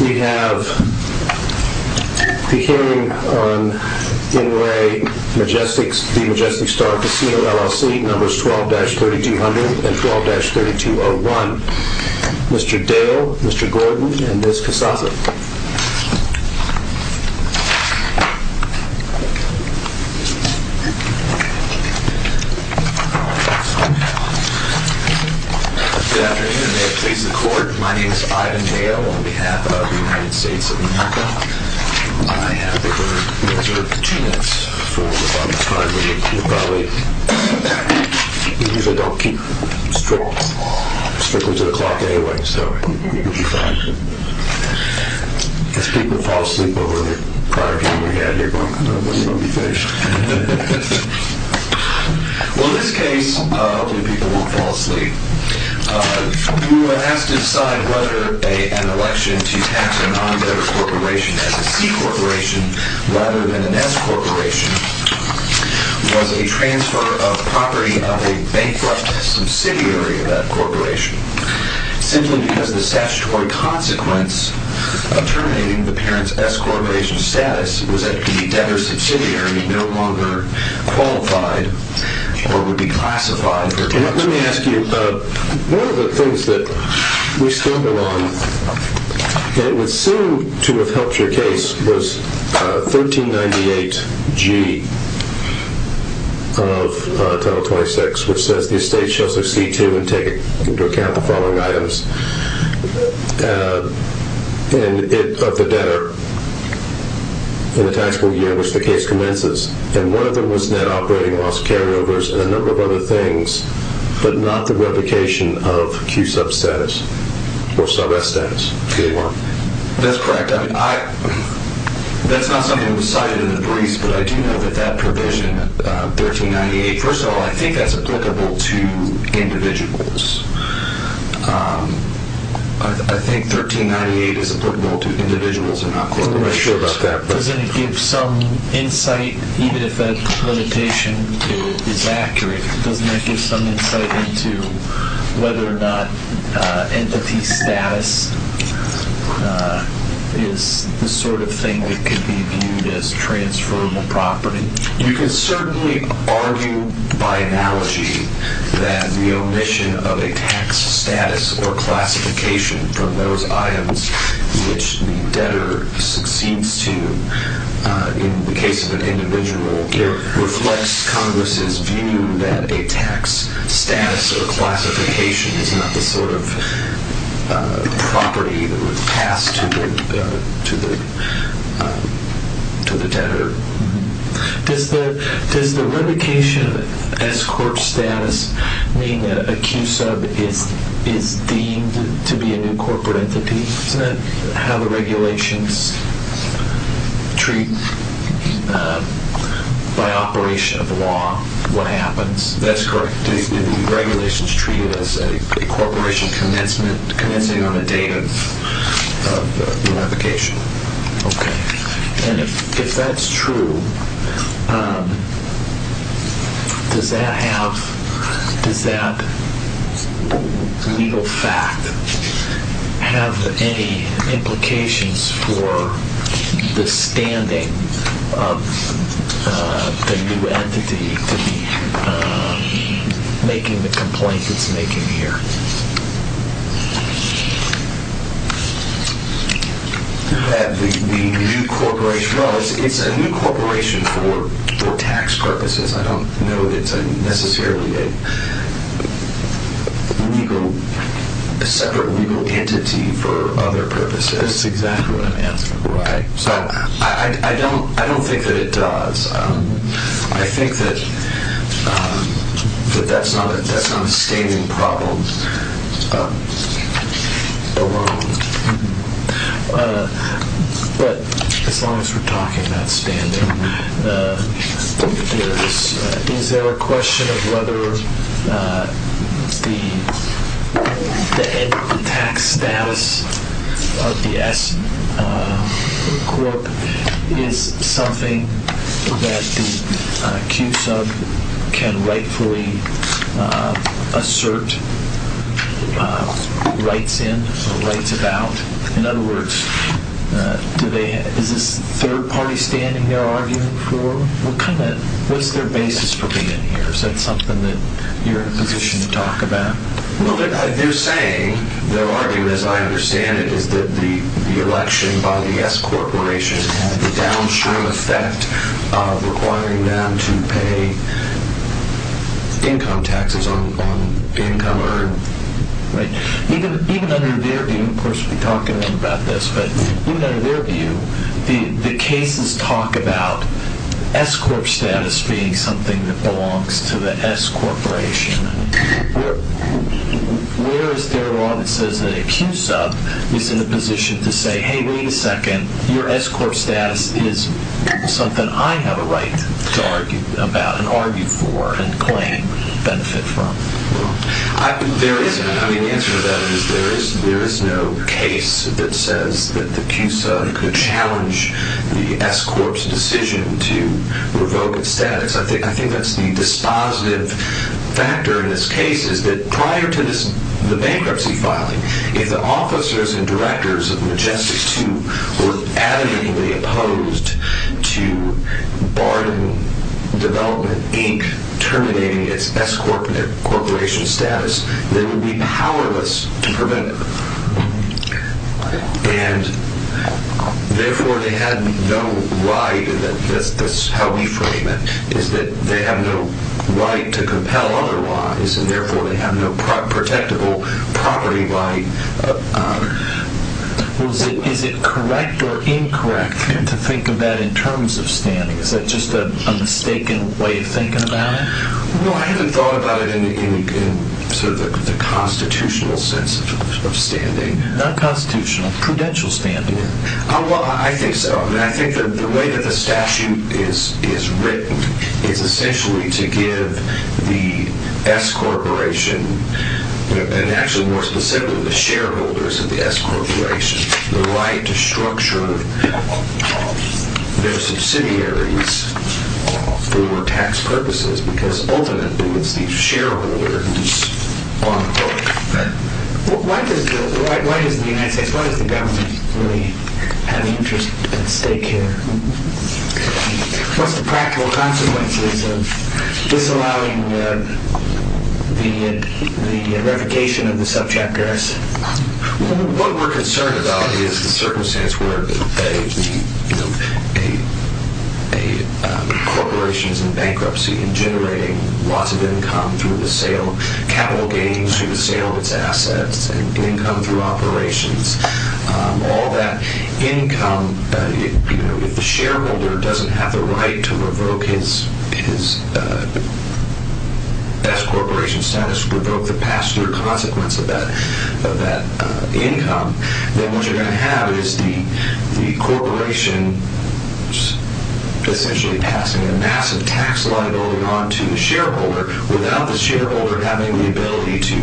We have the hearing on In Re The Majestic Star Casino LLC, numbers 12-3200 and 12-3201. Mr. Dale, Mr. Gordon, and Ms. Casasa. Good afternoon and may it please the court, my name is Ivan Dale on behalf of the United States of America. I have the court measure two minutes for the time limit. We usually don't keep strictly to the clock anyway, so it will be fine. If people fall asleep over the prior hearing we had, you're going to know when you're going to be finished. Well in this case, hopefully people won't fall asleep. We were asked to decide whether an election to tax a non-debtor corporation as a C corporation rather than an S corporation was a transfer of property of a bankrupt subsidiary of that corporation. Simply because of the statutory consequence of terminating the parent's S corporation status was that it could be debtor subsidiary and no longer qualified or would be classified. Let me ask you, one of the things that we stumbled on and it would seem to have helped your case was 1398G of 1026 which says the estate shall succeed to and take into account the following items of the debtor in the taxable year in which the case commences. And one of them was net operating loss carryovers and a number of other things, but not the replication of Q sub status or sub S status. That's correct. That's not something that was cited in the briefs, but I do know that that provision, 1398, first of all I think that's applicable to individuals. I think 1398 is applicable to individuals and not corporations. I'm not quite sure about that. Doesn't it give some insight, even if that limitation is accurate, doesn't that give some insight into whether or not entity status is the sort of thing that could be viewed as transferable property? You can certainly argue by analogy that the omission of a tax status or classification from those items which the debtor succeeds to in the case of an individual reflects Congress's view that a tax status or classification is not the sort of property that would pass to the debtor. Does the replication of S corp status mean that a Q sub is deemed to be a new corporate entity? Isn't that how the regulations treat by operation of law what happens? That's correct. The regulations treat it as a corporation commencing on a date of unification. Okay. And if that's true, does that have, does that legal fact have any implications for the standing of the new entity making the complaint it's making here? No, it's a new corporation for tax purposes. I don't know that it's necessarily a separate legal entity for other purposes. That's exactly what I'm asking. Right. So I don't think that it does. I think that that's not a standing problem alone. But as long as we're talking about standing, is there a question of whether the end tax status of the S corp is something that the Q sub can rightfully assert rights in or rights about? In other words, is this third party standing their argument for? What's their basis for being in here? Is that something that you're in a position to talk about? Well, they're saying, their argument, as I understand it, is that the election by the S corporation had the downstream effect of requiring them to pay income taxes on income earned. Right. Even under their view, and of course we'll be talking more about this, but even under their view, the cases talk about S corp status being something that belongs to the S corporation. Where is there a law that says that a Q sub is in a position to say, hey, wait a second, your S corp status is something I have a right to argue about and argue for and claim benefit from? Well, the answer to that is there is no case that says that the Q sub could challenge the S corp's decision to revoke its status. I think that's the dispositive factor in this case is that prior to the bankruptcy filing, if the officers and directors of Majestic 2 were adamantly opposed to Barton Development, Inc., terminating its S corporation status, they would be powerless to prevent it. And therefore they had no right, and that's how we frame it, is that they have no right to compel otherwise, and therefore they have no protectable property right. Is it correct or incorrect to think of that in terms of standing? Is that just a mistaken way of thinking about it? Well, I haven't thought about it in sort of the constitutional sense of standing. Not constitutional. Credential standing. Well, I think so. I think that the way that the statute is written is essentially to give the S corporation, and actually more specifically the shareholders of the S corporation, the right to structure their subsidiaries for tax purposes, because ultimately it's the shareholders on the court. Why does the United States, why does the government really have an interest at stake here? What's the practical consequences of disallowing the revocation of the subchapter S? What we're concerned about is the circumstance where a corporation is in bankruptcy and generating lots of income through the sale, capital gains through the sale of its assets, and income through operations. All that income, if the shareholder doesn't have the right to revoke his S corporation status, to revoke the past year consequence of that income, then what you're going to have is the corporation essentially passing a massive tax liability on to the shareholder without the shareholder having the ability to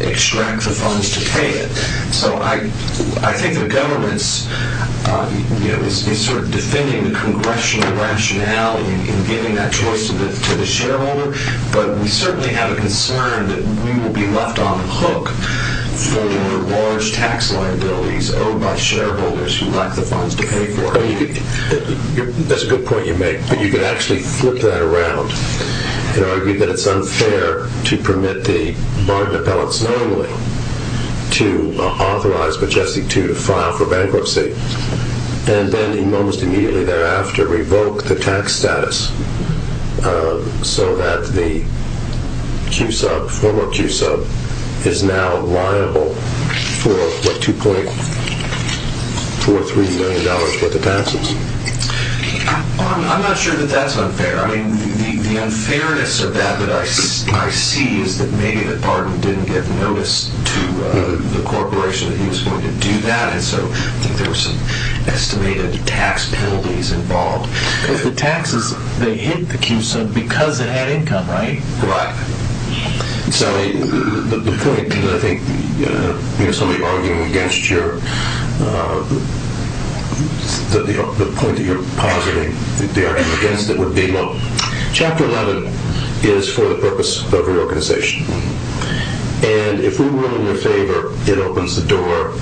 extract the funds to pay it. So I think the government is sort of defending the congressional rationale in giving that choice to the shareholder, but we certainly have a concern that we will be left on the hook for large tax liabilities owed by shareholders who lack the funds to pay for it. That's a good point you make, but you could actually flip that around and argue that it's unfair to permit the bargain appellates normally to authorize Majestic II to file for bankruptcy, and then almost immediately thereafter revoke the tax status so that the former Q-sub is now liable for $2.43 million worth of taxes. I'm not sure that that's unfair. The unfairness of that that I see is that maybe the bargain didn't give notice to the corporation that he was going to do that, so I think there were some estimated tax penalties involved. Because the taxes, they hit the Q-sub because it had income, right? Right. So the point that I think somebody arguing against your, the point that you're positing, the argument against it would be, look, Chapter 11 is for the purpose of reorganization, and if we were in your favor, it opens the door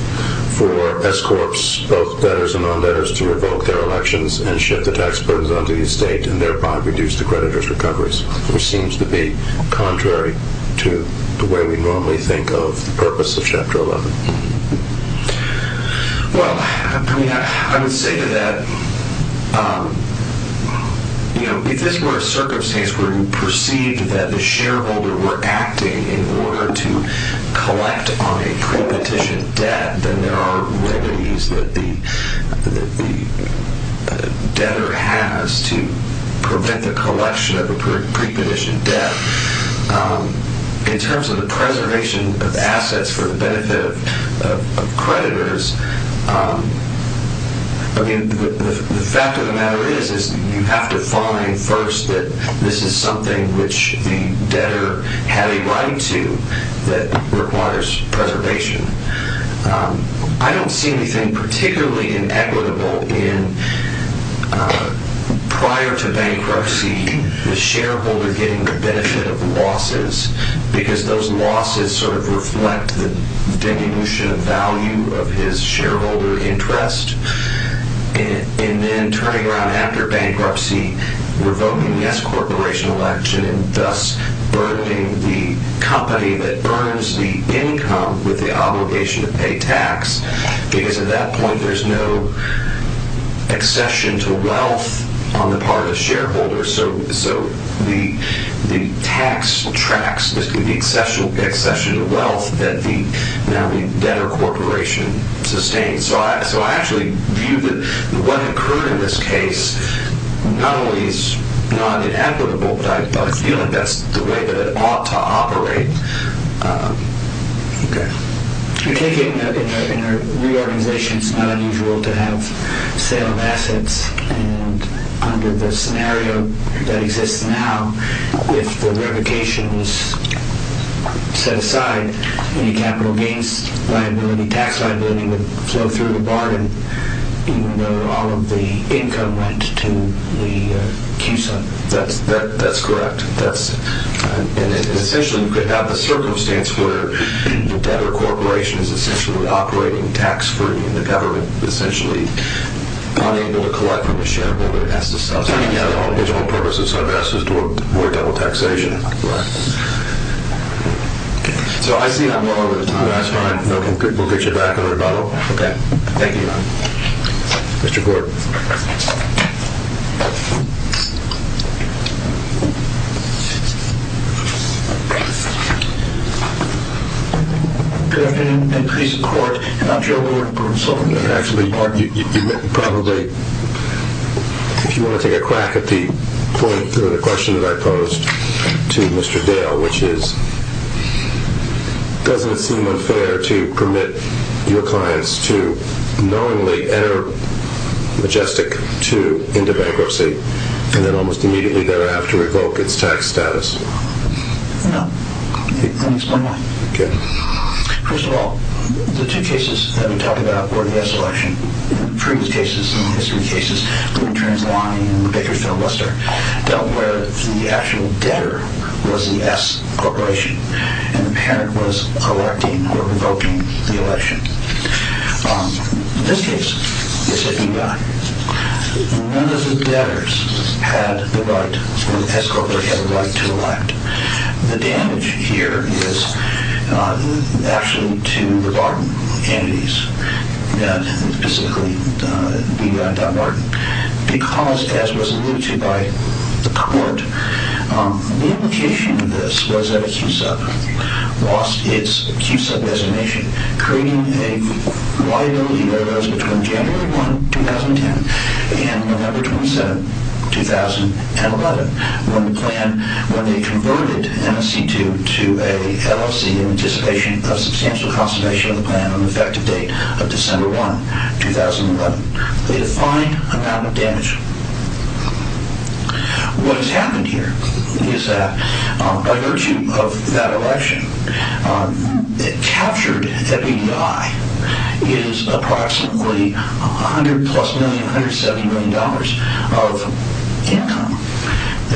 for S-corps, both debtors and non-debtors, to revoke their elections and shift the tax burdens onto the estate and thereby reduce the creditors' recoveries, which seems to be contrary to the way we normally think of the purpose of Chapter 11. Well, I mean, I would say to that, you know, if this were a circumstance where you perceived that the shareholder were acting in order to collect on a prepetition debt, then there are remedies that the debtor has to prevent the collection of a prepetition debt. In terms of the preservation of assets for the benefit of creditors, I mean, the fact of the matter is you have to find first that this is something which the debtor had a right to that requires preservation. I don't see anything particularly inequitable in prior to bankruptcy, the shareholder getting the benefit of losses, because those losses sort of reflect the diminution of value of his shareholder interest, and then turning around after bankruptcy, revoking the S-corporation election, and thus burdening the company that earns the income with the obligation to pay tax, because at that point there's no accession to wealth on the part of the shareholder, so the tax tracks the accession to wealth that the debtor corporation sustains. So I actually view that what occurred in this case not only is not inequitable, but I feel like that's the way that it ought to operate. I take it in a reorganization it's not unusual to have sale of assets, and under the scenario that exists now, if the revocation was set aside, any capital gains liability, tax liability would flow through the bargain, even though all of the income went to the CUSO. That's correct. Essentially you could have a circumstance where the debtor corporation is essentially operating tax-free, and the government essentially unable to collect from the shareholder. It has to subsidize it. Yeah, the whole original purpose of sub-assets is to avoid double taxation. Right. So I see I'm running out of time. That's fine. We'll get you back in a rebuttal. Okay. Thank you. Mr. Gordon. Good afternoon and peace of court. I'm Joe Gordon. Actually, you probably, if you want to take a crack at the point or the question that I posed to Mr. Dale, which is, doesn't it seem unfair to permit your clients to knowingly enter Majestic II into bankruptcy, and then almost immediately thereafter revoke its tax status? No. Let me explain why. Okay. First of all, the two cases that we talked about for the S election, previous cases and history cases, including Transilvania and Bakersfield-Western, dealt where the actual debtor was the S corporation, and the parent was electing or revoking the election. In this case, it's a DUI. None of the debtors had the right, or the S corporation had the right to elect. The damage here is actually to the bottom entities, specifically DUI.Martin. Because, as was alluded to by the court, the implication of this was that a QSUB lost its QSUB designation, creating a liability that was between January 1, 2010, and November 27, 2011, when the plan, when they converted MSC II to an LLC in anticipation of substantial conservation of the plan on the effective date of December 1, 2011. A fine amount of damage. What has happened here is that, by virtue of that election, it captured that the DUI is approximately $100,000,000 plus, $170,000,000 of income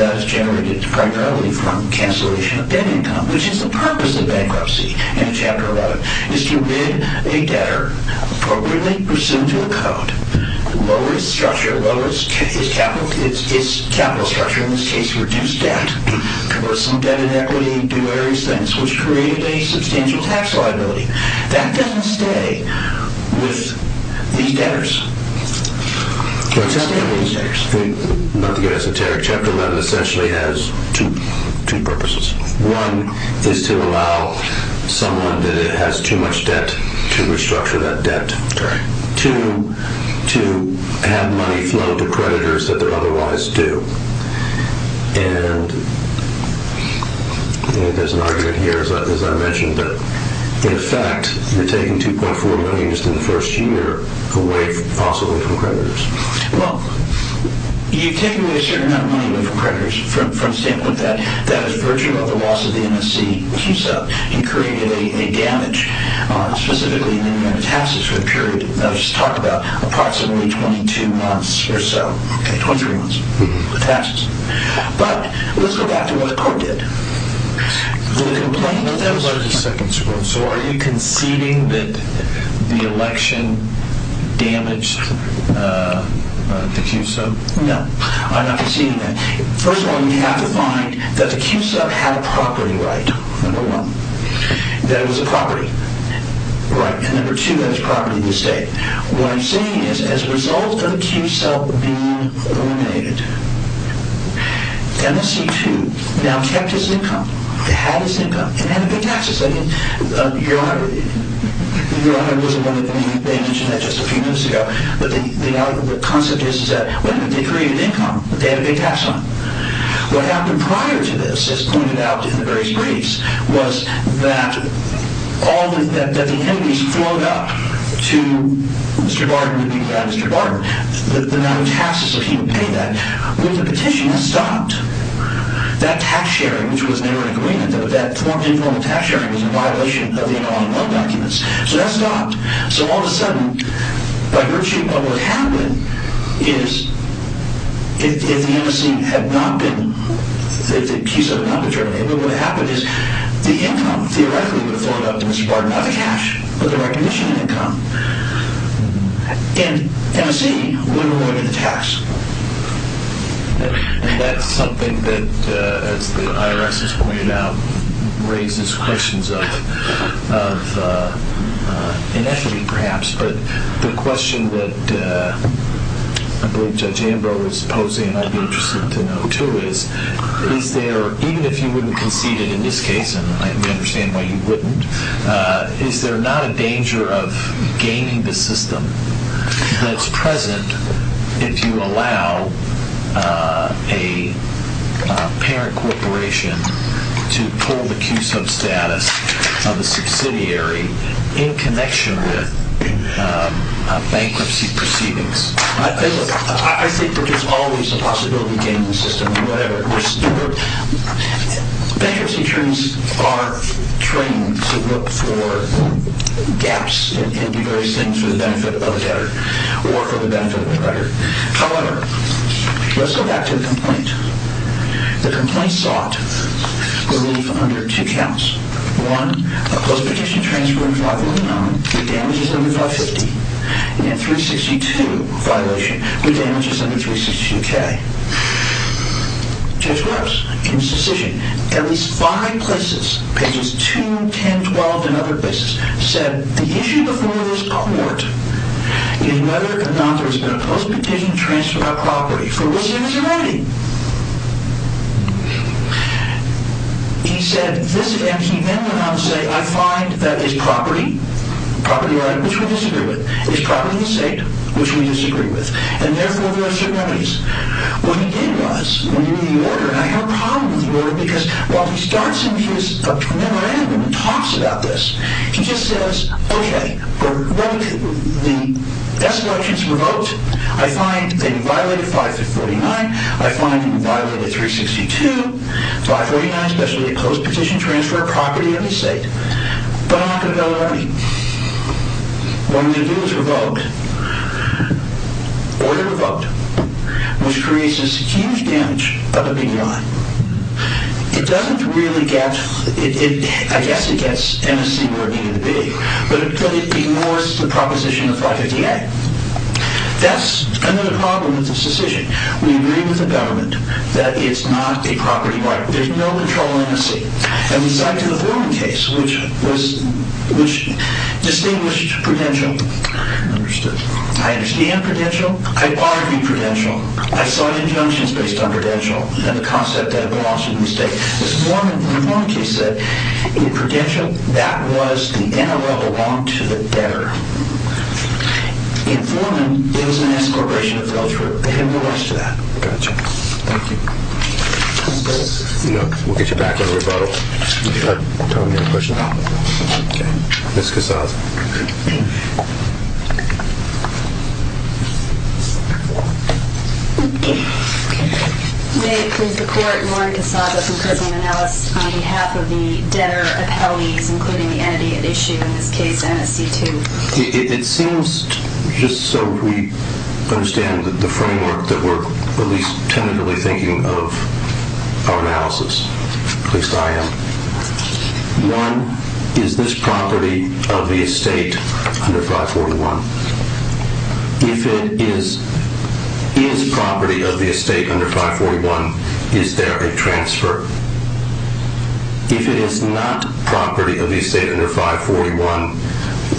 that is generated primarily from cancellation of debt income, which is the purpose of bankruptcy in Chapter 11, is to rid a debtor, appropriately pursuant to a code, lower its structure, lower its capital structure, in this case reduce debt, cover some debt and equity, do various things, which created a substantial tax liability. That doesn't stay with these debtors. It doesn't stay with these debtors. Not to give esoteric, Chapter 11 essentially has two purposes. One is to allow someone that has too much debt to restructure that debt. Correct. Two, to have money flow to creditors that they're otherwise due. And there's an argument here, as I mentioned, that in effect you're taking $2.4 million just in the first year away possibly from creditors. Well, you've taken away a certain amount of money away from creditors, from the standpoint that that was virtue of the loss of the NSC, and created a damage, specifically in the amount of taxes for the period that was talked about, approximately 22 months or so. Okay, 23 months. Taxes. But let's go back to what the court did. The complaint that was... One second, sir. So are you conceding that the election damaged the Q-Sub? No, I'm not conceding that. First of all, you have to find that the Q-Sub had a property right, number one, that it was a property right. And number two, that it's a property of the state. What I'm saying is, as a result of the Q-Sub being eliminated, NSC2 now kept its income, had its income, and had a big taxes. I mean, Eurohub was one of the... They mentioned that just a few minutes ago. But the concept is that, wait a minute, they created income, but they had a big tax on it. What happened prior to this, as pointed out in the various briefs, was that the enemies flowed up to Mr. Barton. You'd be glad, Mr. Barton. The amount of taxes that he would pay that. With the petition, that stopped. That tax sharing, which was never an agreement, that informal tax sharing was in violation of the Interim Autonomy Documents. So that stopped. So all of a sudden, by virtue of what happened, is if the NSC had not been... What happened is the income, theoretically, would have flowed up to Mr. Barton. Not the cash, but the recognition income. And NSC would have avoided the tax. And that's something that, as the IRS has pointed out, raises questions of inequity, perhaps. But the question that I believe Judge Ambrose is posing, and I'd be interested to know, too, is, is there, even if you wouldn't concede it in this case, and I understand why you wouldn't, is there not a danger of gaining the system that's present if you allow a parent corporation to pull the Q-sub status of a subsidiary in connection with bankruptcy proceedings? I think that there's always a possibility of gaining the system. Whatever. Bankruptcy attorneys are trained to look for gaps and do various things for the benefit of the debtor, or for the benefit of the creditor. However, let's go back to the complaint. The complaint sought relief under two counts. One, a post-petition transfer in 509 with damages under 550. And 362, a violation with damages under 362K. Judge Rose, in his decision, at least five places, pages 2, 10, 12, and other places, said the issue before this court is whether or not there has been a post-petition transfer of property for which there is a remedy. He said this, and he then went on to say, I find that it's property, property right, which we disagree with. It's property of the estate, which we disagree with. And therefore, there are certain remedies. What he did was, when he read the order, and I have a problem with the order, because while he starts in his memorandum and talks about this, he just says, okay, the best elections were voted. I find they violated 549. I find they violated 362, 549, especially a post-petition transfer of property of the estate, but I'm not going to go there. What I'm going to do is revoke. Order revoked, which creates this huge damage of the big line. It doesn't really get, I guess it gets MSC working in the big, but it ignores the proposition of 550A. That's another problem with this decision. We agree with the government that it's not a property right. There's no control of MSC. And we signed to the Foreman case, which distinguished Prudential. I understand Prudential. I've argued Prudential. I saw injunctions based on Prudential and the concept that it belongs to the estate. The Foreman case said, in Prudential, that was the NRL belonged to the debtor. In Foreman, it was an escorbration of the elderly. They have no rights to that. Got you. Thank you. We'll get you back on the rebuttal. Tom, you have a question? Okay. Ms. Casaza. May it please the Court, Lauren Casaza from Crystal Manalis on behalf of the debtor appellees, including the entity at issue in this case, MSC2. It seems, just so we understand the framework, that we're at least tentatively thinking of our analysis, at least I am. One, is this property of the estate under 541? If it is property of the estate under 541, is there a transfer? If it is not property of the estate under 541,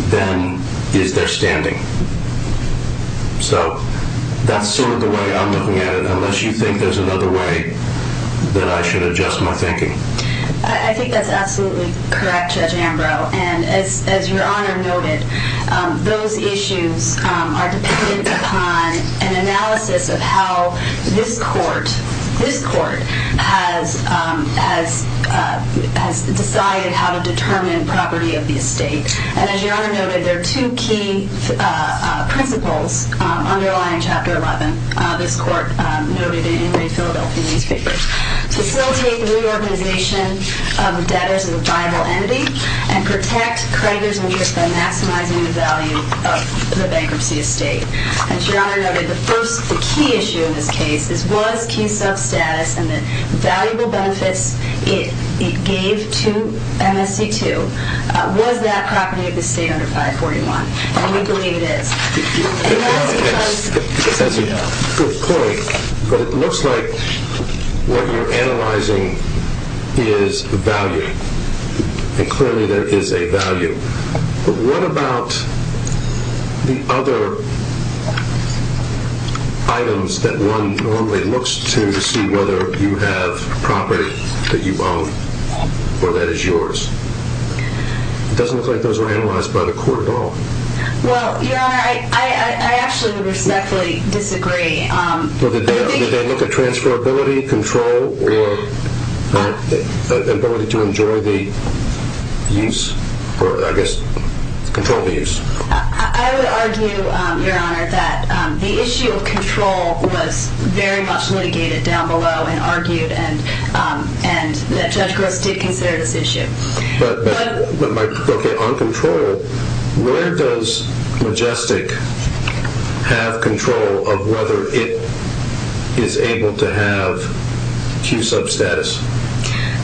then is there standing? So, that's sort of the way I'm looking at it, unless you think there's another way that I should adjust my thinking. I think that's absolutely correct, Judge Ambrose, and as your Honor noted, those issues are dependent upon an analysis of how this Court has decided how to determine property of the estate. And as your Honor noted, there are two key principles underlying Chapter 11, this Court noted in the Philadelphia newspapers. Facilitate the reorganization of debtors as a viable entity, and protect creditors' interest by maximizing the value of the bankruptcy estate. As your Honor noted, the first, the key issue in this case, is was key sub-status and the valuable benefits it gave to MSC2, was that property of the estate under 541? And we believe it is. And that is because... That's a good point, but it looks like what you're analyzing is value. And clearly there is a value. But what about the other items that one normally looks to see whether you have property that you own or that is yours? It doesn't look like those were analyzed by the Court at all. Well, your Honor, I actually would respectfully disagree. Or the ability to enjoy the use, or I guess control the use. I would argue, your Honor, that the issue of control was very much litigated down below and argued and that Judge Gross did consider this issue. But on control, where does Majestic have control of whether it is able to have key sub-status?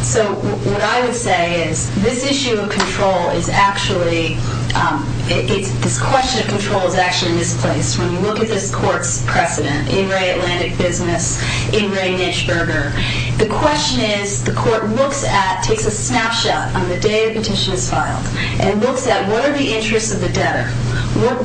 So what I would say is this issue of control is actually, this question of control is actually misplaced. When you look at this Court's precedent in Ray Atlantic Business, in Ray Nitschberger, the question is the Court looks at, takes a snapshot on the day a petition is filed and looks at what are the interests of the debtor.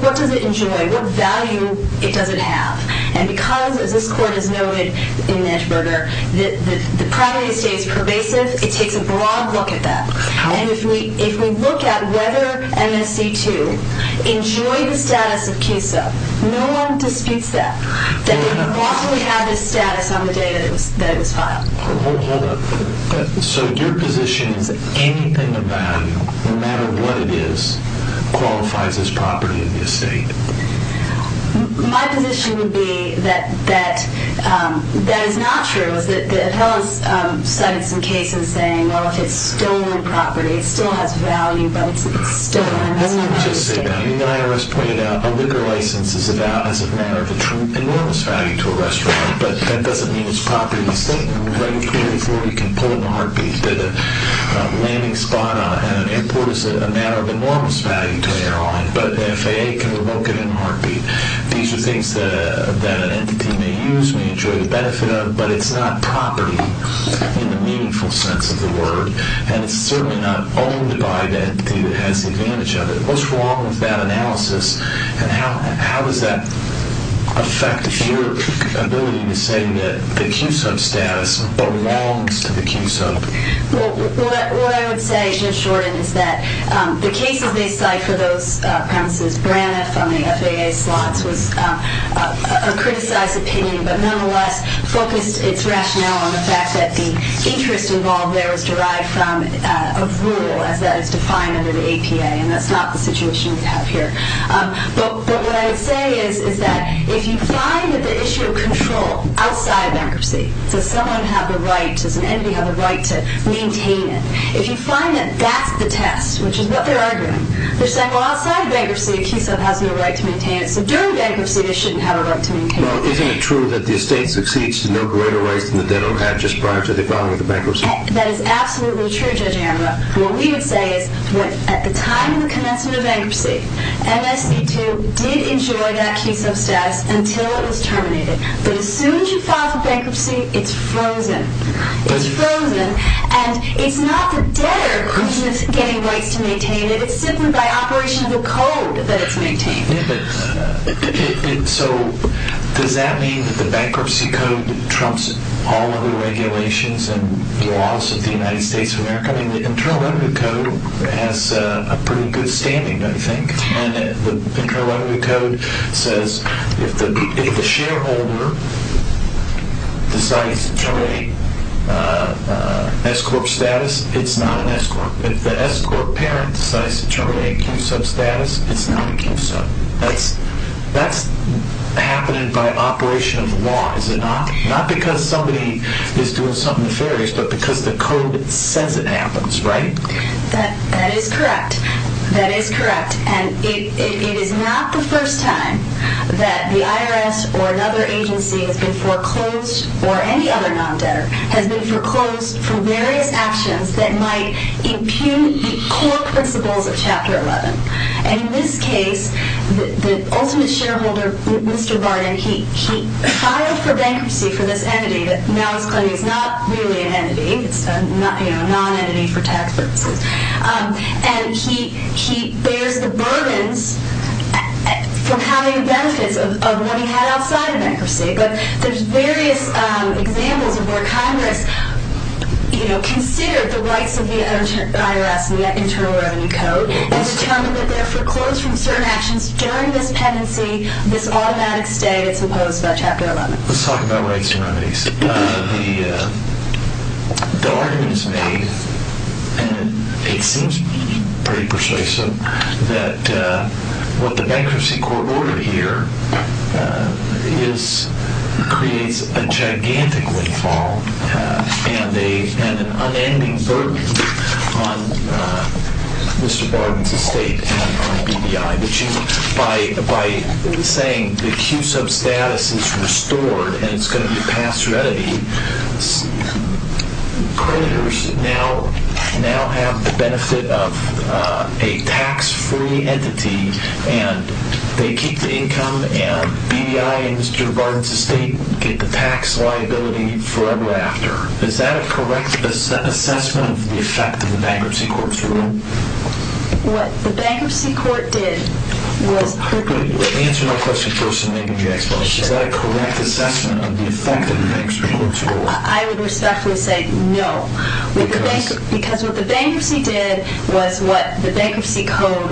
What does it enjoy? What value does it have? And because, as this Court has noted in Nitschberger, the property stays pervasive, it takes a broad look at that. And if we look at whether MSC 2 enjoyed the status of key sub, no one disputes that. That they broadly had this status on the day that it was filed. Hold on. So your position is that anything of value, no matter what it is, qualifies as property of the estate? My position would be that that is not true. The appellants cited some cases saying, well, if it's stolen property, it still has value, but it's stolen and it's not part of the estate. Let me just say that. I mean, the IRS pointed out a liquor license is about as a matter of enormous value to a restaurant, but that doesn't mean it's property of the estate. You can pull it in a heartbeat. A landing spot at an airport is a matter of enormous value to an airline, but the FAA can revoke it in a heartbeat. These are things that an entity may use, may enjoy the benefit of, but it's not property in the meaningful sense of the word. And it's certainly not owned by the entity that has the advantage of it. What's wrong with that analysis? And how does that affect your ability to say that the CUSO status belongs to the CUSO? Well, what I would say, Mr. Shorten, is that the cases they cite for those premises, Braniff on the FAA slots, was a criticized opinion, but nonetheless focused its rationale on the fact that the interest involved there was derived from a rule, as that is defined under the APA, and that's not the situation we have here. But what I would say is that if you find that the issue of control outside bankruptcy, does someone have the right, does an entity have the right to maintain it, if you find that that's the test, which is what they're arguing, they're saying, well, outside bankruptcy, a CUSO has no right to maintain it, Well, isn't it true that the estate succeeds to no greater ways than the debtor had just prior to the filing of the bankruptcy? That is absolutely true, Judge Anwar. What we would say is, at the time of the commencement of bankruptcy, MSP2 did enjoy that CUSO status until it was terminated. But as soon as you file for bankruptcy, it's frozen. It's frozen, and it's not the debtor who's getting rights to maintain it, it's simply by operation of the code that it's maintained. So does that mean that the bankruptcy code trumps all other regulations and laws of the United States of America? I mean, the Internal Revenue Code has a pretty good standing, don't you think? And the Internal Revenue Code says if the shareholder decides to terminate S-corp status, it's not an S-corp. If the S-corp parent decides to terminate CUSO status, it's not a CUSO. That's happening by operation of the law, is it not? Not because somebody is doing something nefarious, but because the code says it happens, right? That is correct. That is correct, and it is not the first time that the IRS or another agency has been foreclosed, or any other non-debtor, has been foreclosed for various actions that might impugn the core principles of Chapter 11. And in this case, the ultimate shareholder, Mr. Barton, he filed for bankruptcy for this entity, but now he's claiming it's not really an entity, it's a non-entity for tax purposes. And he bears the burdens from having benefits of what he had outside of bankruptcy. But there's various examples of where Congress, you know, considered the rights of the IRS and the Internal Revenue Code and determined that they're foreclosed from certain actions during this pendency, this automatic stay that's imposed by Chapter 11. Let's talk about rights and remedies. The argument is made, and it seems pretty persuasive, that what the Bankruptcy Court ordered here creates a gigantic windfall and an unending burden on Mr. Barton's estate and on BDI. By saying the Q-sub status is restored and it's going to be a pass-through entity, creditors now have the benefit of a tax-free entity, and they keep the income, and BDI and Mr. Barton's estate get the tax liability forever after. Is that a correct assessment of the effect of the Bankruptcy Court's ruling? What the Bankruptcy Court did was... Answer my question first, Ms. Jackson. Is that a correct assessment of the effect of the Bankruptcy Court's ruling? I would respectfully say no, because what the Bankruptcy did was what the Bankruptcy Code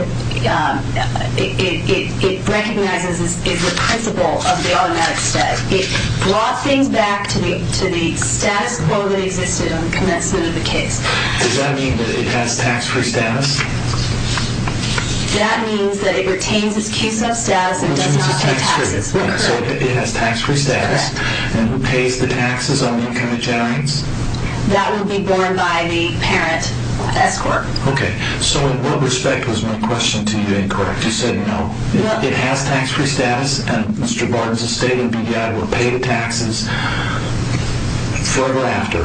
recognizes as the principle of the automatic stay. It brought things back to the status quo that existed on the commencement of the case. Does that mean that it has tax-free status? That means that it retains its Q-sub status and does not pay taxes. So it has tax-free status, and who pays the taxes on the income it generates? That would be borne by the parent escort. So in what respect was my question to you incorrect? You said no. It has tax-free status, and Mr. Barton's estate and BDI will pay the taxes forever after.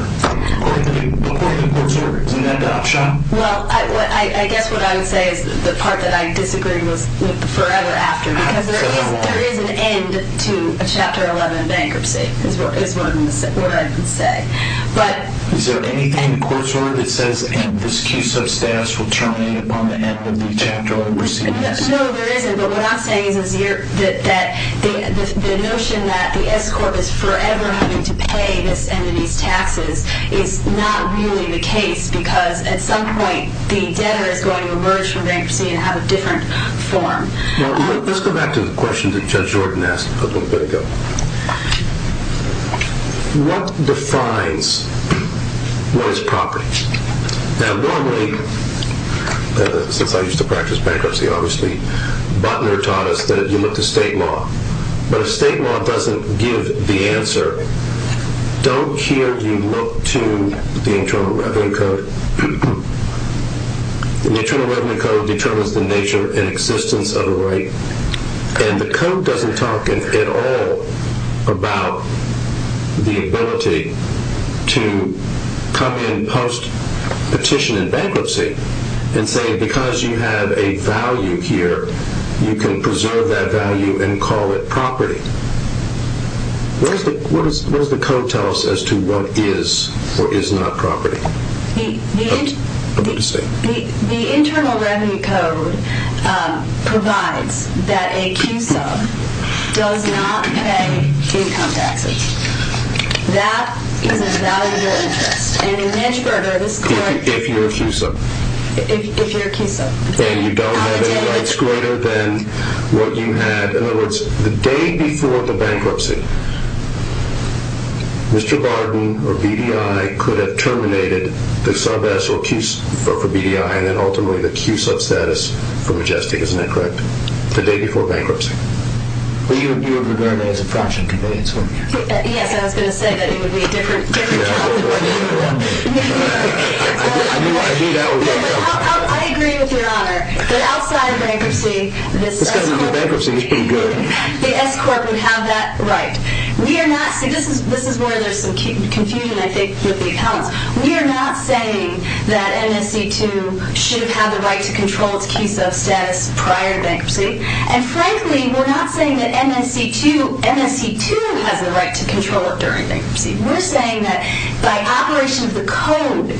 According to the court's order, isn't that an option? Well, I guess what I would say is the part that I disagreed with forever after, because there is an end to a Chapter 11 bankruptcy, is what I would say. Is there anything in the court's order that says this Q-sub status will terminate upon the end of the Chapter 11 bankruptcy? No, there isn't, but what I'm saying is that the notion that the escort is forever having to pay this entity's taxes is not really the case, because at some point, the debtor is going to emerge from bankruptcy and have a different form. Let's go back to the question that Judge Jordan asked a little bit ago. What defines what is property? Now, normally, since I used to practice bankruptcy, obviously, Butler taught us that you look to state law, but if state law doesn't give the answer, don't hear you look to the Internal Revenue Code. The Internal Revenue Code determines the nature and existence of a right, and the code doesn't talk at all about the ability to come in post-petition and bankruptcy and say, because you have a value here, you can preserve that value and call it property. What does the code tell us as to what is or is not property? The Internal Revenue Code provides that a Q-sub does not pay income taxes. That is a valuable interest. And in Hedge-Burger, this is like... If you're a Q-sub. If you're a Q-sub. And you don't have any rights greater than what you had. In other words, the day before the bankruptcy, Mr. Barden or BDI could have terminated the sub-S for BDI and then ultimately the Q-sub status for Majestic. Isn't that correct? The day before bankruptcy. Well, you would regard that as a fraction of convenience, wouldn't you? Yes, I was going to say that it would be a different topic. I knew that would be a problem. I agree with Your Honor that outside of bankruptcy, the S-corp would have that right. This is where there's some confusion, I think, with the accountants. We are not saying that MSC2 should have had the right to control its Q-sub status prior to bankruptcy. And frankly, we're not saying that MSC2 has the right to control it during bankruptcy. We're saying that by operation of the code,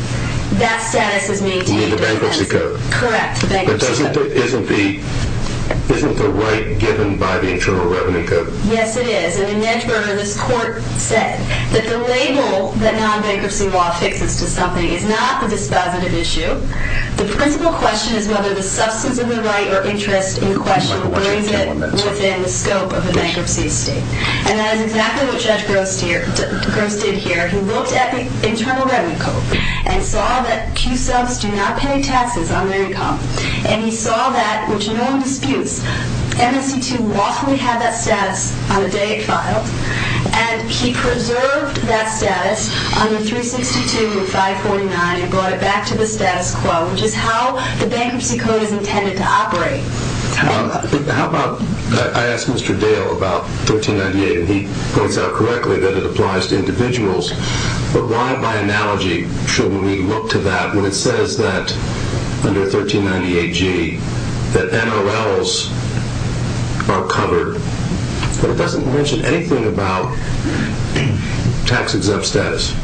that status is maintained. You mean the bankruptcy code? Correct, the bankruptcy code. But isn't the right given by the Internal Revenue Code? Yes, it is. And in Hedge-Burger, this court said that the label that non-bankruptcy law fixes to something is not the dispositive issue. The principal question is whether the substance of the right or interest in the question or is it within the scope of a bankruptcy state. And that is exactly what Judge Gross did here. He looked at the Internal Revenue Code and saw that Q-subs do not pay taxes on their income. And he saw that, which no one disputes, MSC2 lawfully had that status on the day it filed. And he preserved that status under 362 of 549 and brought it back to the status quo, which is how the bankruptcy code is intended to operate. How about I ask Mr. Dale about 1398 and he points out correctly that it applies to individuals. But why, by analogy, shouldn't we look to that when it says that under 1398G that NRLs are covered, but it doesn't mention anything about tax-exempt status?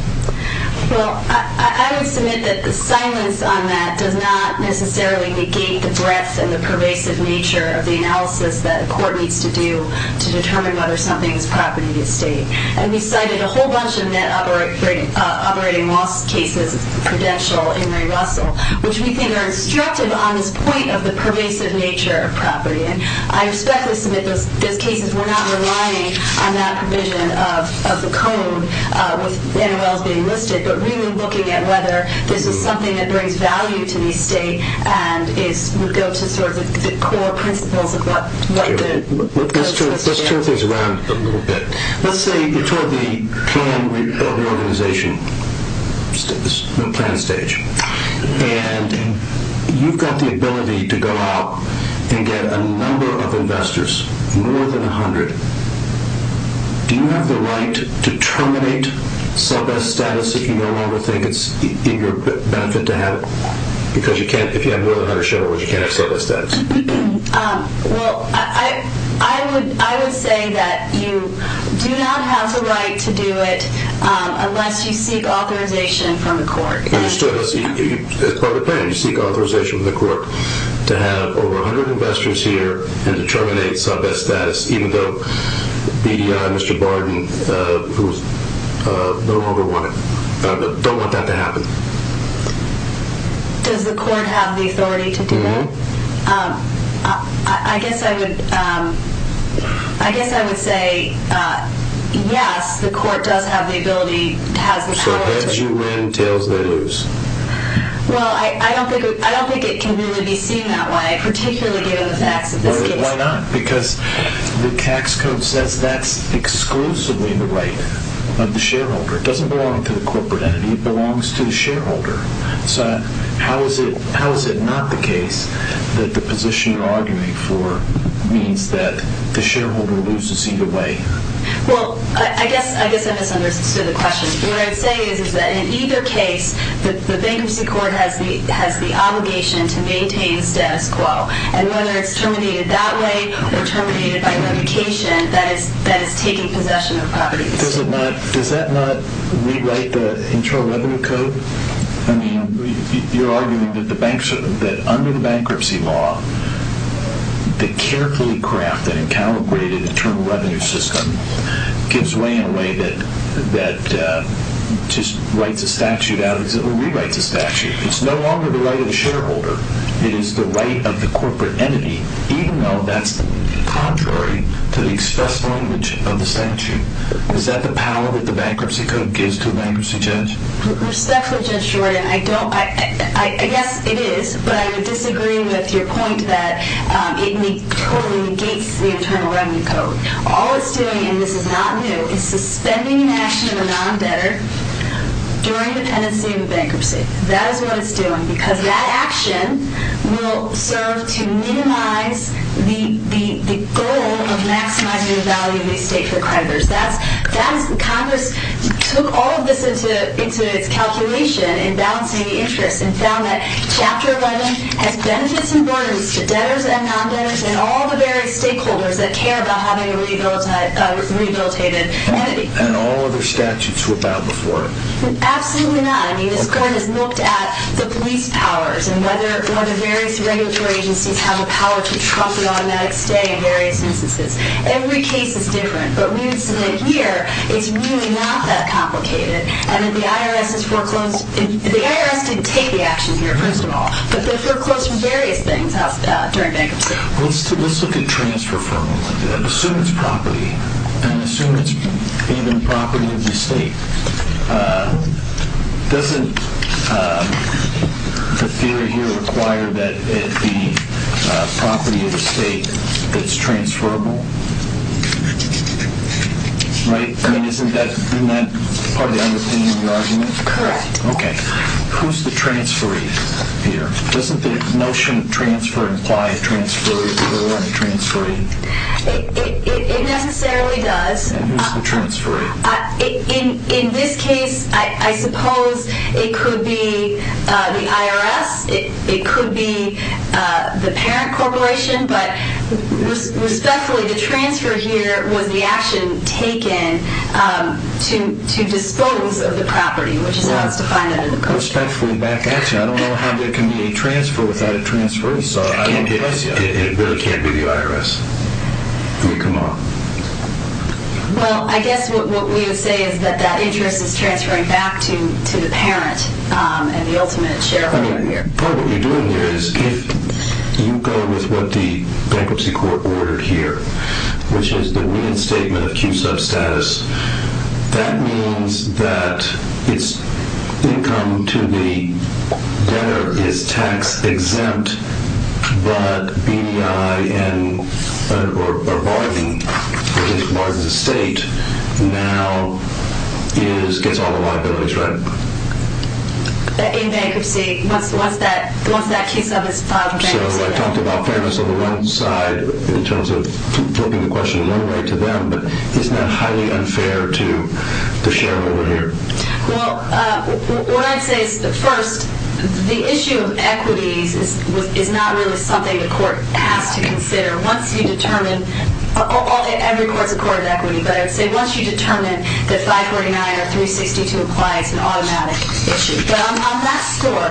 Well, I would submit that the silence on that does not necessarily negate the breadth and the pervasive nature of the analysis that a court needs to do to determine whether something is property or estate. And we cited a whole bunch of net operating loss cases, Prudential, Henry Russell, which we think are instructive on this point of the pervasive nature of property. And I respectfully submit those cases. We're not relying on that provision of the code with NRLs being listed, but really looking at whether this is something that brings value to the estate and would go to sort of the core principles of what the statute says. Let's turn things around a little bit. Let's say you're told the plan of the organization, the planning stage, and you've got the ability to go out and get a number of investors, more than 100. Do you have the right to terminate sub-est status if you no longer think it's in your benefit to have it? Because if you have more than 100 shareholders, you can't have sub-est status. Well, I would say that you do not have the right to do it unless you seek authorization from the court. Understood. It's part of the plan. You seek authorization from the court to have over 100 investors here and to terminate sub-est status even though BDI, Mr. Barden, who no longer want it, don't want that to happen. Does the court have the authority to do that? I guess I would say yes, the court does have the ability. So heads you win, tails they lose. Well, I don't think it can really be seen that way, particularly given the facts of this case. Why not? Because the tax code says that's exclusively the right of the shareholder. It doesn't belong to the corporate entity. It belongs to the shareholder. So how is it not the case that the position you're arguing for means that the shareholder loses either way? Well, I guess I misunderstood the question. What I'm saying is that in either case, the bankruptcy court has the obligation to maintain status quo. And whether it's terminated that way or terminated by litigation, that is taking possession of properties. Does that not rewrite the Internal Revenue Code? I mean, you're arguing that under the bankruptcy law, the carefully crafted and calibrated Internal Revenue System gives way in a way that just writes a statute out or rewrites a statute. It's no longer the right of the shareholder. It is the right of the corporate entity, even though that's contrary to the express language of the statute. Is that the power that the bankruptcy code gives to a bankruptcy judge? Respectfully, Judge Jordan, I guess it is, but I disagree with your point that it totally negates the Internal Revenue Code. All it's doing, and this is not new, is suspending an action of a non-debtor during the pendency of a bankruptcy. That is what it's doing because that action will serve to minimize the goal of maximizing the value of the estate for creditors. Congress took all of this into its calculation in balancing the interests and found that Chapter 11 has benefits and burdens to debtors and non-debtors and all the various stakeholders that care about having a rehabilitated entity. And all other statutes would bow before it. Absolutely not. I mean, this Court has looked at the police powers and whether various regulatory agencies have the power to trump an automatic stay in various instances. Every case is different, but we would say that here it's really not that complicated. And that the IRS has foreclosed. The IRS didn't take the action here, first of all, but they foreclosed from various things during bankruptcy. Let's look at transfer for a moment and assume it's property, and assume it's even property of the estate. Doesn't the theory here require that it be property of the estate that's transferable? Right? I mean, isn't that part of the underpinning of the argument? Correct. Okay. Who's the transferee here? Doesn't the notion of transfer imply a transferee or a transferee? It necessarily does. And who's the transferee? In this case, I suppose it could be the IRS. It could be the parent corporation. But respectfully, the transfer here was the action taken to dispose of the property, which is how it's defined under the Code. Respectfully back at you. I don't know how there can be a transfer without a transfer. It really can't be the IRS. Come on. Well, I guess what we would say is that that interest is transferring back to the parent and the ultimate shareholder here. Okay. Part of what you're doing here is if you go with what the bankruptcy court ordered here, which is the wind statement of Q-sub status, that means that its income to the debtor is tax-exempt, but BDI or bargaining, which is a state, now gets all the liabilities, right? In bankruptcy, once that Q-sub is filed in bankruptcy. So I talked about fairness on the one side in terms of flipping the question one way to them, but isn't that highly unfair to the shareholder here? Well, what I'd say is that, first, the issue of equities is not really something the court has to consider. Once you determine, every court is a court of equity, but I would say once you determine that 549 or 362 applies, it's an automatic issue. But on that score,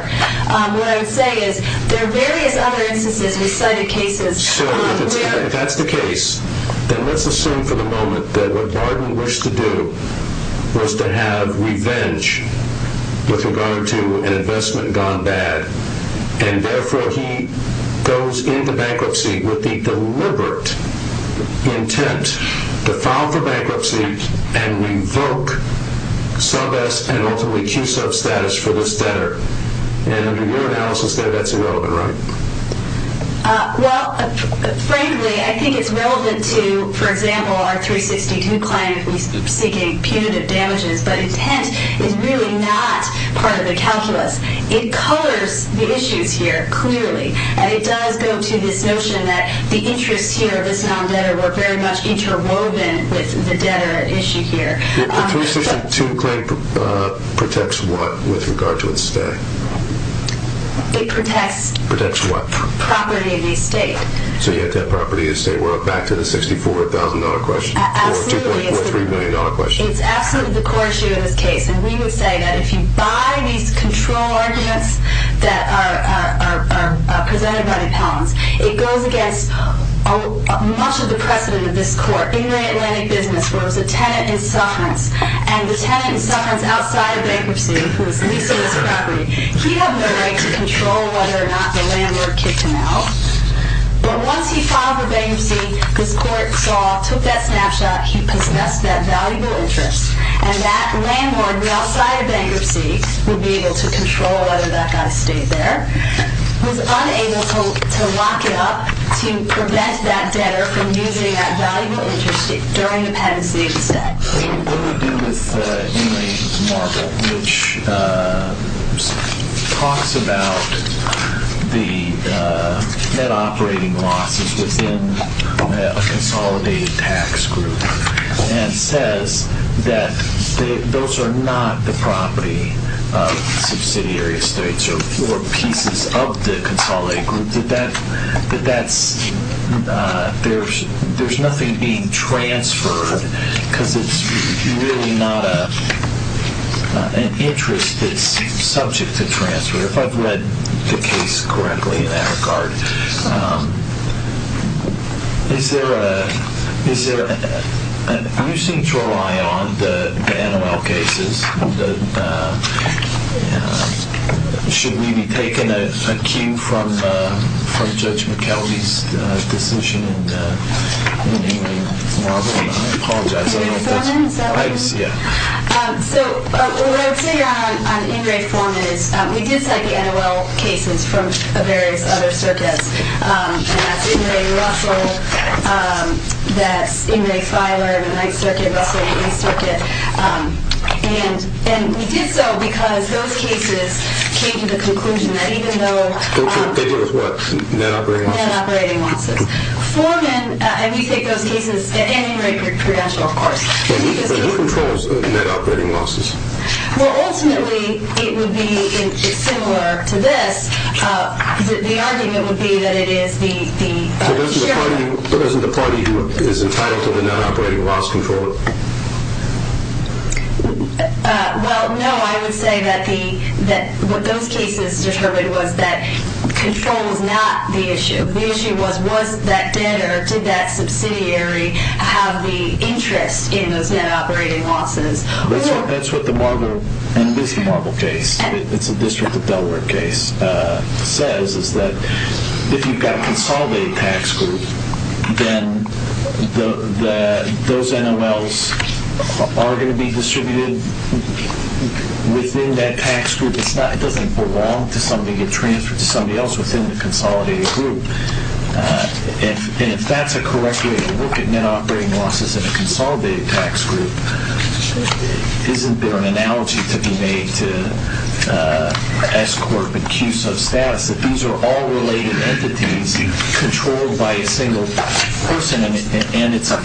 what I would say is there are various other instances we cited cases where- So if that's the case, then let's assume for the moment that what Barton wished to do was to have revenge with regard to an investment gone bad, and therefore he goes into bankruptcy with the deliberate intent to file for bankruptcy and revoke sub-S and ultimately Q-sub status for this debtor. And under your analysis, that's irrelevant, right? Well, frankly, I think it's relevant to, for example, our 362 client seeking punitive damages, but intent is really not part of the calculus. It colors the issues here clearly, and it does go to this notion that the interests here of this non-debtor were very much interwoven with the debtor issue here. The 362 claim protects what with regard to its stay? It protects- Protects what? Property of the estate. So you have to have property of the estate. We're back to the $64,000 question. Absolutely. Or $2.3 million question. It's absolutely the core issue of this case, and we would say that if you buy these control arguments that are presented by the appellants, it goes against much of the precedent of this court in the Atlantic business, where it was a tenant in sufferance, and the tenant in sufferance outside of bankruptcy who was leasing this property, he had no right to control whether or not the landlord kicked him out. But once he filed for bankruptcy, this court saw, took that snapshot, he possessed that valuable interest, and that landlord outside of bankruptcy would be able to control whether that guy stayed there, was unable to lock it up to prevent that debtor from using that valuable interest during the penancy instead. What do we do with Inmate Marvel, which talks about the net operating losses within a consolidated tax group and says that those are not the property of subsidiary estates or pieces of the consolidated group, that there's nothing being transferred because it's really not an interest that's subject to transfer. If I've read the case correctly in that regard, You seem to rely on the NOL cases. Should we be taking a cue from Judge McKelvey's decision in Inmate Marvel? I apologize, I don't know if that's right. What I would say on Ingray's form is we did cite the NOL cases from various other circuits, and that's Ingray-Russell, that's Ingray-Filer in the Ninth Circuit, Russell in the Eighth Circuit. And we did so because those cases came to the conclusion that even though... They were what? Net operating losses? Net operating losses. Foreman, and we take those cases, and Ingray-Prudential, of course. But who controls net operating losses? Well, ultimately, it would be similar to this. The argument would be that it is the sheriff. But isn't the party who is entitled to the net operating loss control? Well, no. I would say that what those cases determined was that control was not the issue. The issue was was that debtor, did that subsidiary have the interest in those net operating losses? That's what the Marble case, it's a District of Delaware case, says, is that if you've got a consolidated tax group, then those NOLs are going to be distributed within that tax group. It doesn't belong to somebody and get transferred to somebody else within the consolidated group. And if that's a correct way to look at net operating losses in a consolidated tax group, isn't there an analogy to be made to S-Corp and Q-Sub status, that these are all related entities controlled by a single person, and it's a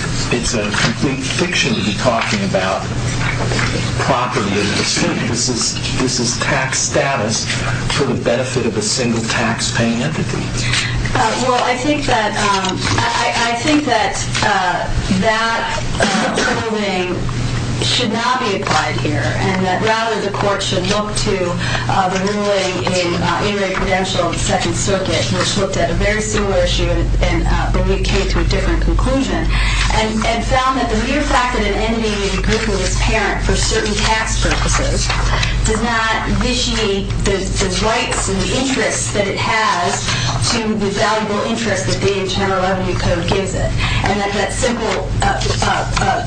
complete fiction to be talking about property and estate. This is tax status for the benefit of a single taxpaying entity. Well, I think that that approving should not be applied here, and that rather the court should look to the ruling in Inouye Prudential in the Second Circuit, which looked at a very similar issue, but we came to a different conclusion, and found that the mere fact that an entity may be proof of its parent for certain tax purposes does not vichy the rights and the interests that it has to the valuable interest that the Internal Revenue Code gives it, and that the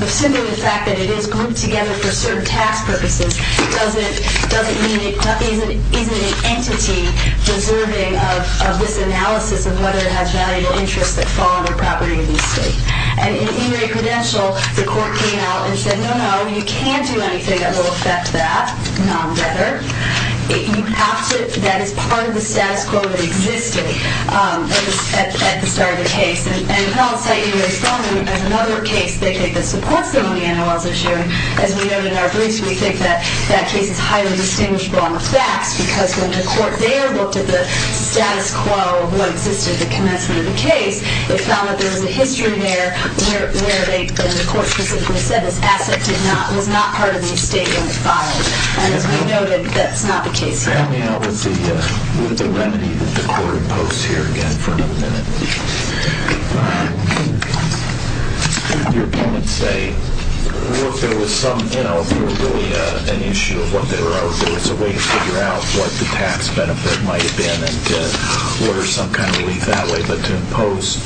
simple fact that it is grouped together for certain tax purposes doesn't mean it isn't an entity deserving of this analysis of whether it has valuable interests that fall under property and estate. And in Inouye Prudential, the court came out and said, well, no, no, you can't do anything that will affect that, rather. That is part of the status quo that existed at the start of the case. And I'll cite you very strongly as another case that supports the money analysis issue. As we noted in our briefs, we think that that case is highly distinguishable on the facts, because when the court there looked at the status quo of what existed at the commencement of the case, it found that there was a history there where the court specifically said this asset was not part of the estate when it filed. And as we noted, that's not the case here. Let me help with the remedy that the court imposed here again for another minute. Let's hear what your opponents say. I don't know if there was really an issue of what they wrote, but it's a way to figure out what the tax benefit might have been and to order some kind of relief that way. But to impose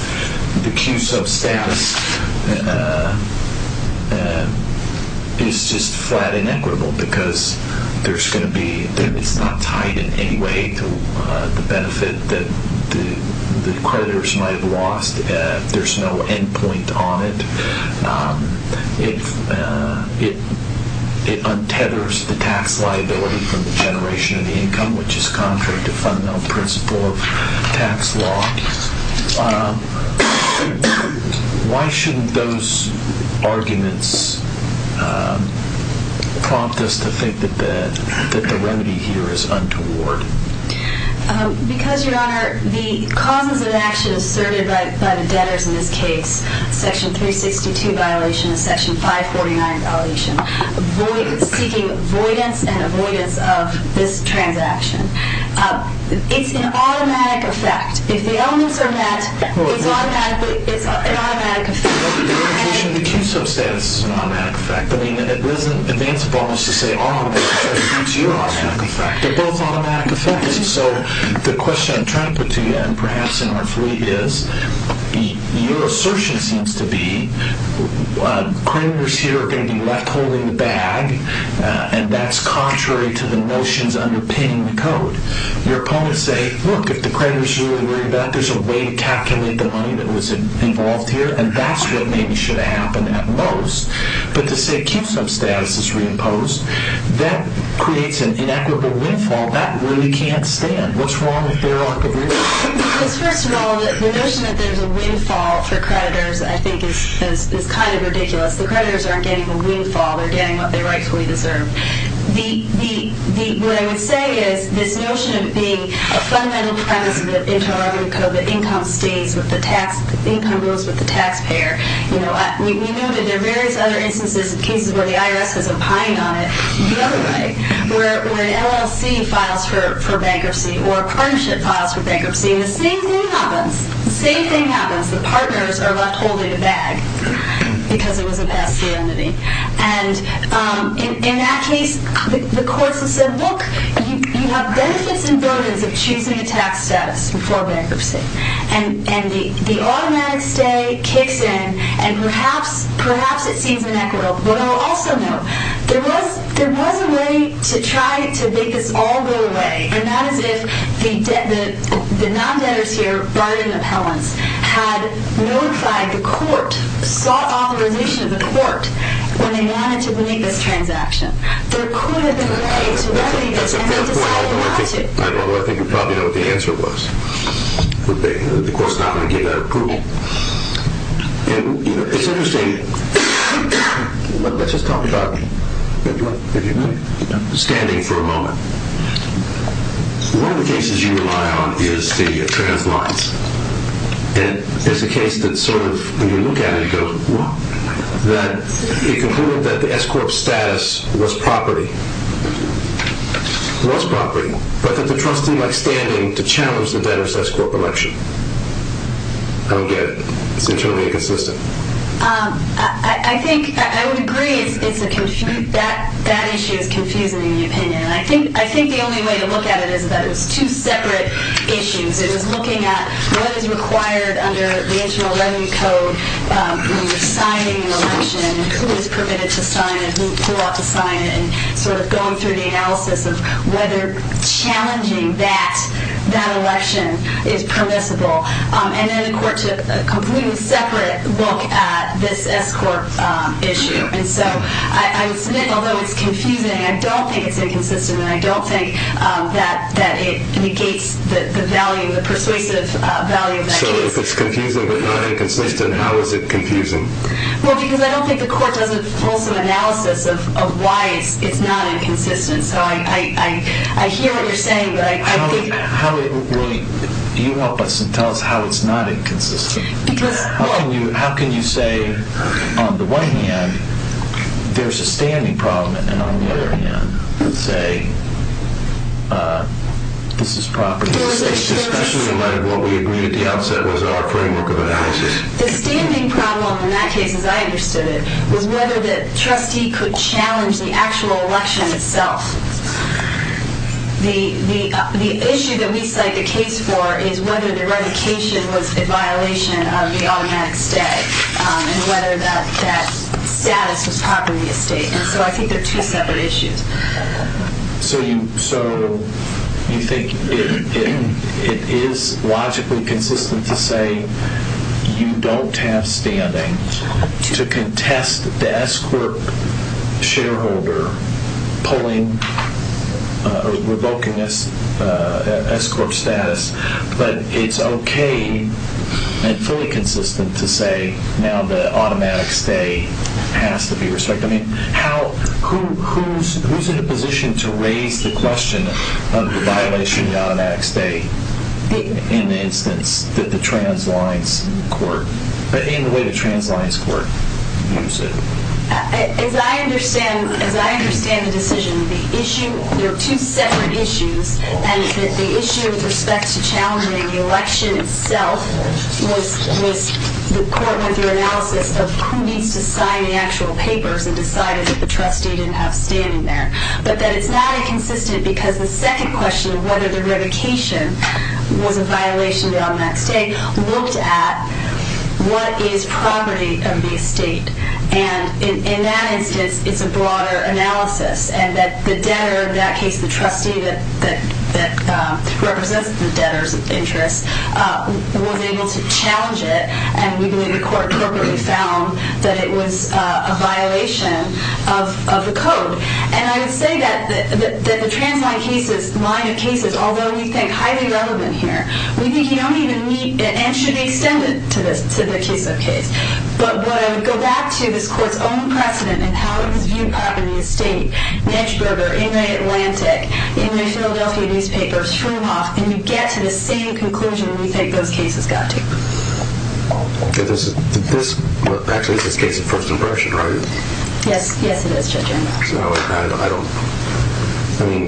the Q-sub status is just flat inequitable, because it's not tied in any way to the benefit that the creditors might have lost. There's no end point on it. It untethers the tax liability from the generation of the income, which is contrary to fundamental principle of tax law. Why shouldn't those arguments prompt us to think that the remedy here is untoward? Because, Your Honor, the causes of action asserted by the debtors in this case, Section 362 violation and Section 549 violation, seeking avoidance and avoidance of this transaction. It's an automatic effect. If the elements are met, it's an automatic effect. The implication of the Q-sub status is an automatic effect. I mean, it wasn't advance bonus to say, oh, it's your automatic effect. They're both automatic effects. So the question I'm trying to put to you, and perhaps inartfully, your assertion seems to be creditors here are going to be left holding the bag, and that's contrary to the notions underpinning the code. Your opponents say, look, if the creditors are really worried about it, there's a way to calculate the money that was involved here, and that's what maybe should have happened at most. But to say Q-sub status is reimposed, that creates an inequitable windfall. That really can't stand. What's wrong with their argument? First of all, the notion that there's a windfall for creditors, I think, is kind of ridiculous. The creditors aren't getting a windfall. They're getting what they rightfully deserve. What I would say is this notion of being a fundamental premise of the Inter-Armory Code, that income stays with the tax, income goes with the taxpayer. We know that there are various other instances and cases where the IRS has opined on it the other way, where an LLC files for bankruptcy or a partnership files for bankruptcy, and the same thing happens. The same thing happens. The partners are left holding the bag because it was a past serenity. And in that case, the courts have said, look, you have benefits and burdens of choosing a tax status before bankruptcy, and the automatic stay kicks in, and perhaps it seems inequitable. But I'll also note, there was a way to try to make this all go away, and that is if the non-debtors here, burden appellants, had notified the court, sought authorization of the court, when they wanted to make this transaction. There could have been a way to remedy this, and they decided not to. I don't know. I think you probably know what the answer was. The court's not going to give that approval. It's interesting. Let's just talk about standing for a moment. One of the cases you rely on is the trans lines, and it's a case that sort of, when you look at it, it concluded that the S-corp status was property. It was property, but that the trust seemed like standing to challenge the debtor's S-corp election. I don't get it. It seems really inconsistent. I think I would agree that issue is confusing in the opinion. I think the only way to look at it is that it was two separate issues. It was looking at what is required under the Internal Revenue Code when you're signing an election, who is permitted to sign it, who ought to sign it, and sort of going through the analysis of whether challenging that election is permissible. And then the court took a completely separate look at this S-corp issue. And so I would submit, although it's confusing, I don't think it's inconsistent, and I don't think that it negates the value, the persuasive value of that case. So if it's confusing but not inconsistent, how is it confusing? Well, because I don't think the court does a fulsome analysis of why it's not inconsistent. So I hear what you're saying, but I think— Well, you help us and tell us how it's not inconsistent. Because— How can you say, on the one hand, there's a standing problem, and on the other hand, say, this is property of the state, especially in light of what we agreed at the outset was our framework of analysis. The standing problem in that case, as I understood it, was whether the trustee could challenge the actual election itself. The issue that we cite the case for is whether the revocation was a violation of the automatic stay and whether that status was property of state. And so I think they're two separate issues. So you think it is logically consistent to say you don't have standing to contest the S-corp shareholder pulling or revoking an S-corp status, but it's okay and fully consistent to say, now the automatic stay has to be restricted. I mean, who's in a position to raise the question of the violation of the automatic stay in the instance that the trans-lions court— in the way the trans-lions court views it? As I understand the decision, the issue— they're two separate issues, and the issue with respect to challenging the election itself was the court went through analysis of who needs to sign the actual papers and decided that the trustee didn't have standing there. But that it's not inconsistent because the second question of whether the revocation was a violation of the automatic stay looked at what is property of the estate. And in that instance, it's a broader analysis and that the debtor, in that case the trustee that represents the debtor's interest, was able to challenge it, and we believe the court appropriately found that it was a violation of the code. And I would say that the trans-lion cases— line of cases, although we think highly relevant here, we think you don't even need— and should be extended to the case of case. But what I would go back to is the court's own precedent and how it was viewed properly in the estate, Nijburger, Inouye Atlantic, Inouye Philadelphia newspapers, Shroomhoff, and you get to the same conclusion we think those cases got to. Okay, this is—actually this case is first impression, right? Yes, yes it is, Judge Engel. And I don't—I mean,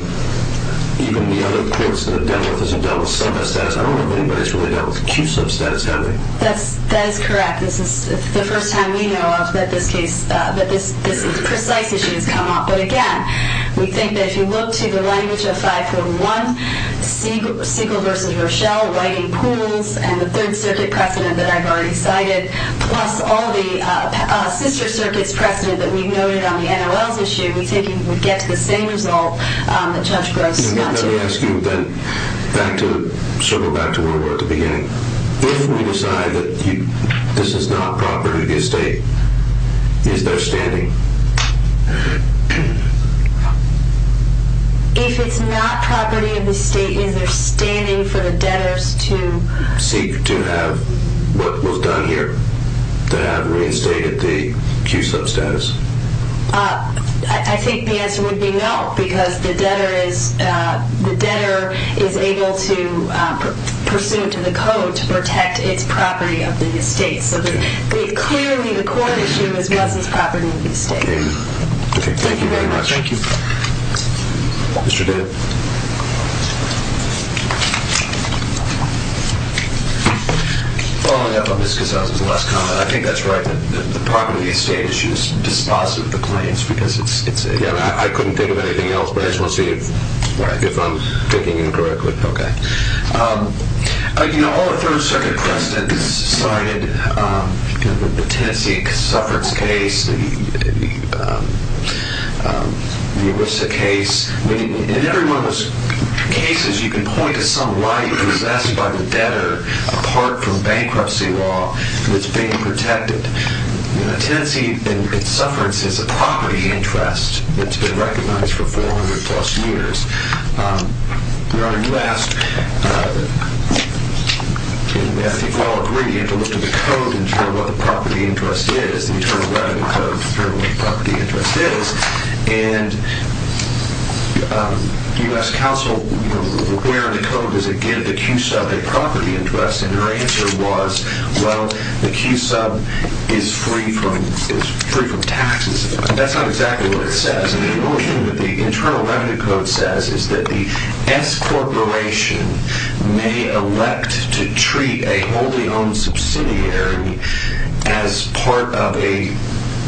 even the other courts that have dealt with this have dealt with sub-status. I don't know if anybody's really dealt with acute sub-status, have they? That is correct. This is the first time we know of that this case— that this precise issue has come up. But again, we think that if you look to the language of 541, Siegel versus Rochelle, writing pools, and the Third Circuit precedent that I've already cited, plus all the sister circuits precedent that we've noted on the NOL's issue, we get to the same result that Judge Gross got to. Let me ask you then, back to— circle back to where we were at the beginning. If we decide that this is not property of the estate, is there standing? If it's not property of the estate, is there standing for the debtors to— Seek to have what was done here, to have reinstated the acute sub-status? I think the answer would be no, because the debtor is— the debtor is able to pursue to the code to protect its property of the estate. So, clearly, the court issue is Wesson's property of the estate. Okay, thank you very much. Thank you. Mr. Ditt. Mr. Ditt. Following up on Ms. Cazales' last comment, I think that's right, that the property of the estate issue is dispositive of the claims, because it's a— Yeah, I couldn't think of anything else, but I just want to see if I'm thinking incorrectly. Okay. You know, all the Third Circuit precedents cited, the Tennessee suffrage case, the ERISA case, I mean, in every one of those cases, you can point to some right possessed by the debtor apart from bankruptcy law, that's being protected. Tennessee, in its sufferance, has a property interest that's been recognized for 400-plus years. Your Honor, you asked, and I think we all agree, you have to look to the code to determine what the property interest is, the Internal Revenue Code to determine what the property interest is, and you asked counsel, where in the code does it give the Q-sub a property interest, and her answer was, well, the Q-sub is free from taxes. That's not exactly what it says. I mean, the only thing that the Internal Revenue Code says is that the S-corporation may elect to treat a wholly owned subsidiary as part of a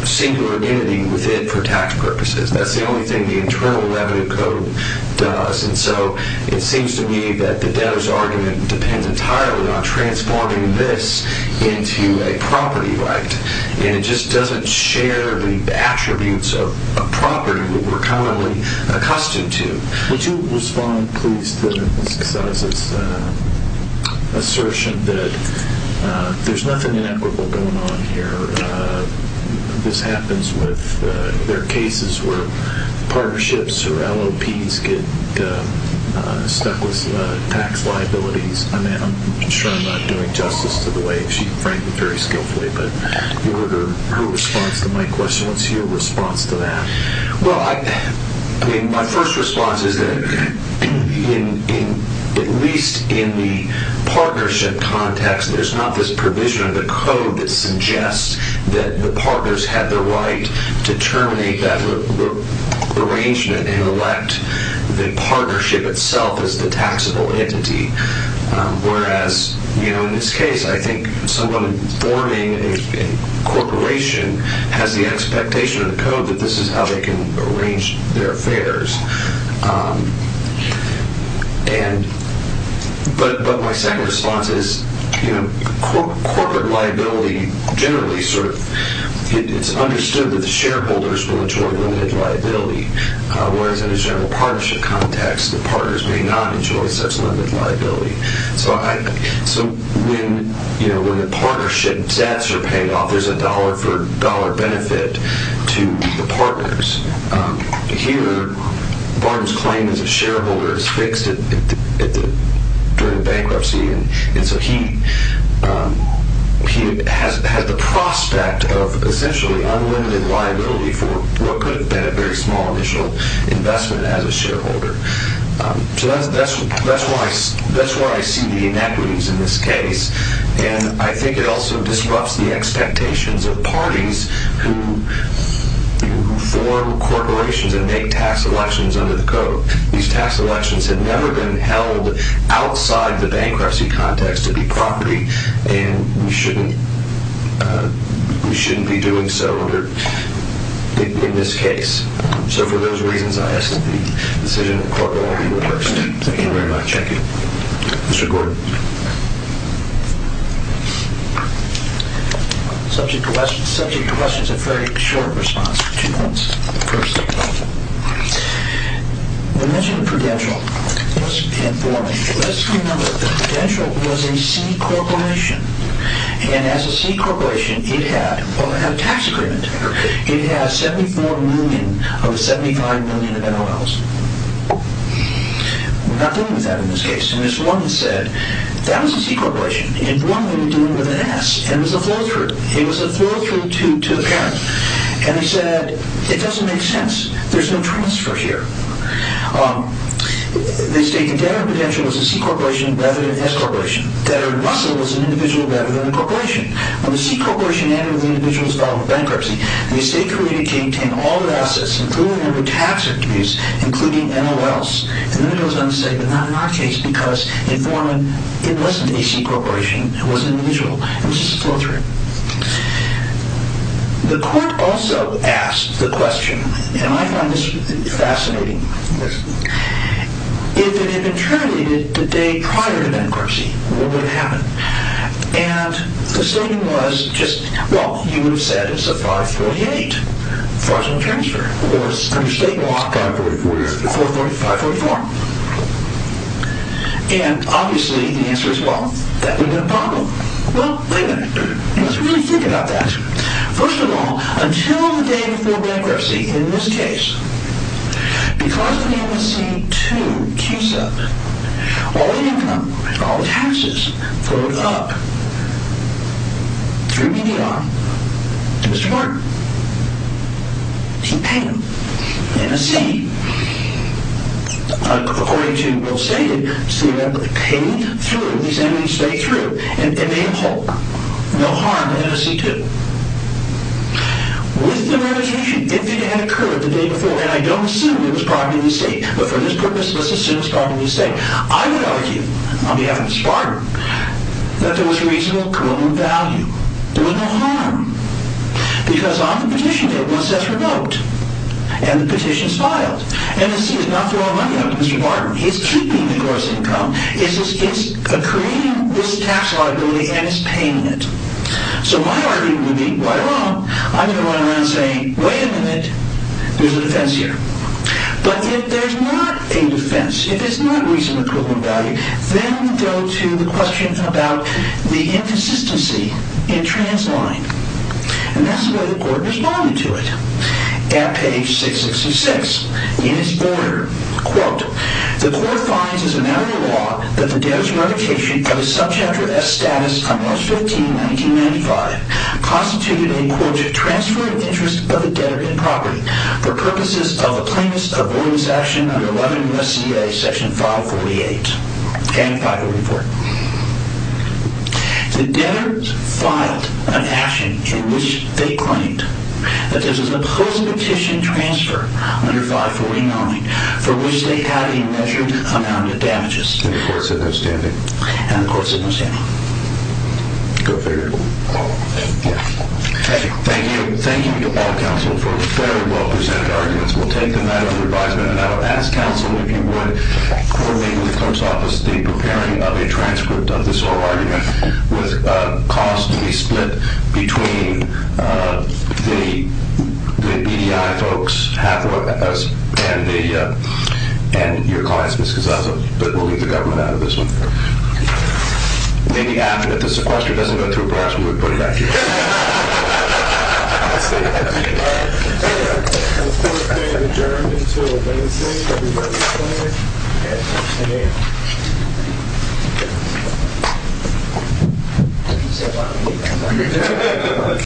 singular entity with it for tax purposes. That's the only thing the Internal Revenue Code does, and so it seems to me that the debtor's argument depends entirely on transforming this into a property right, and it just doesn't share the attributes of a property that we're commonly accustomed to. Could you respond, please, to Ms. Casales' assertion that there's nothing inequitable going on here, this happens with, there are cases where partnerships or LOPs get stuck with tax liabilities. I'm sure I'm not doing justice to the way she, frankly, very skillfully, but you heard her response to my question. What's your response to that? Well, I mean, my first response is that at least in the partnership context, there's not this provision of the code that suggests that the partners have the right to terminate that arrangement and elect the partnership itself as the taxable entity, whereas, you know, in this case, I think someone forming a corporation has the expectation of the code that this is how they can arrange their affairs. And, but my second response is, you know, corporate liability generally sort of, it's understood that the shareholders will enjoy limited liability, whereas in a general partnership context, the partners may not enjoy such limited liability. So I, so when, you know, when the partnership debts are paid off, there's a dollar for dollar benefit to the partners. Here, Barnes' claim as a shareholder is fixed during bankruptcy, and so he has the prospect of essentially unlimited liability for what could have been a very small initial investment as a shareholder. So that's why I see the inequities in this case, and I think it also disrupts the expectations of parties who form corporations and make tax elections under the code. These tax elections have never been held outside the bankruptcy context of the property, and we shouldn't, we shouldn't be doing so under, in this case. So for those reasons, I estimate the decision of corporate liability will be reversed. Thank you very much. Thank you. Mr. Gordon. Subject to questions. Subject to questions. A very short response. Two points. First, we mentioned Prudential. Just to inform you, let's remember that Prudential was a C corporation, and as a C corporation, it had, well, it had a tax agreement. It had 74 million of 75 million of MLs. We're not dealing with that in this case, and as one said, that was a C corporation. In Forman, we were dealing with an S, and it was a flow-through. It was a flow-through to the parent, and he said, it doesn't make sense. There's no transfer here. They stated that Prudential was a C corporation rather than an S corporation, that Russell was an individual rather than a corporation. On the C corporation end, the individual was filed for bankruptcy, and the estate created came to have all the assets, including the number of tax revenues, including MLs, and then it goes on to say, but not in our case, because in Forman, it wasn't a C corporation. It was an individual. It was just a flow-through. The court also asked the question, and I find this fascinating. If it had been terminated the day prior to bankruptcy, what would have happened? And the statement was just, well, you would have said it's a 548, fraudulent transfer, or under state law, 544. And obviously, the answer is, well, that would have been a problem. Well, wait a minute. Let's really think about that. First of all, until the day before bankruptcy, in this case, because of the MLC2 case-up, all the income, all the taxes, flowed up through BDR to Mr. Martin. He paid them. And a C, according to what was stated, paid through, these enemies paid through, and made a hole. No harm in the MLC2. With the revocation, if it had occurred the day before, and I don't assume it was property of the state, but for this purpose, let's assume it was property of the state, I would argue, on behalf of the Spartan, that there was reasonable common value. There was no harm. Because on the petition, it was remote. And the petition is filed. And the C is not throwing money out to Mr. Martin. He is keeping the gross income. It's creating this tax liability, and it's paying it. So my argument would be, right along, I'm going to run around saying, wait a minute, there's a defense here. But if there's not a defense, if it's not reasonable common value, then we go to the question about the inconsistency in transline. And that's the way the court responded to it. At page 666, in its border, quote, the court finds as a matter of law that the debtor's revocation of his subchapter S status on March 15, 1995, constituted a, quote, transfer of interest of the debtor in property for purposes of a plaintiff's avoidance action under 11 U.S.C.A., section 548, and 544. The debtors filed an action in which they claimed that this is a post-petition transfer under 549 for which they had a measured amount of damages. And the court said no standing. And the court said no standing. Go figure. Thank you. Thank you. Thank you to all counsel for the very well-presented arguments. We'll take the matter under advisement, and I would ask counsel, if you would, coordinate with the clerk's office the preparing of a transcript of this oral argument with costs to be split between the EDI folks, Hathaway, and your clients, Ms. Gazzazzo, but we'll leave the government out of this one. Maybe after, if the sequester doesn't go through, perhaps we would put it back together. That's it. Thank you. The court may adjourn until Wednesday, everybody say. And that's the end.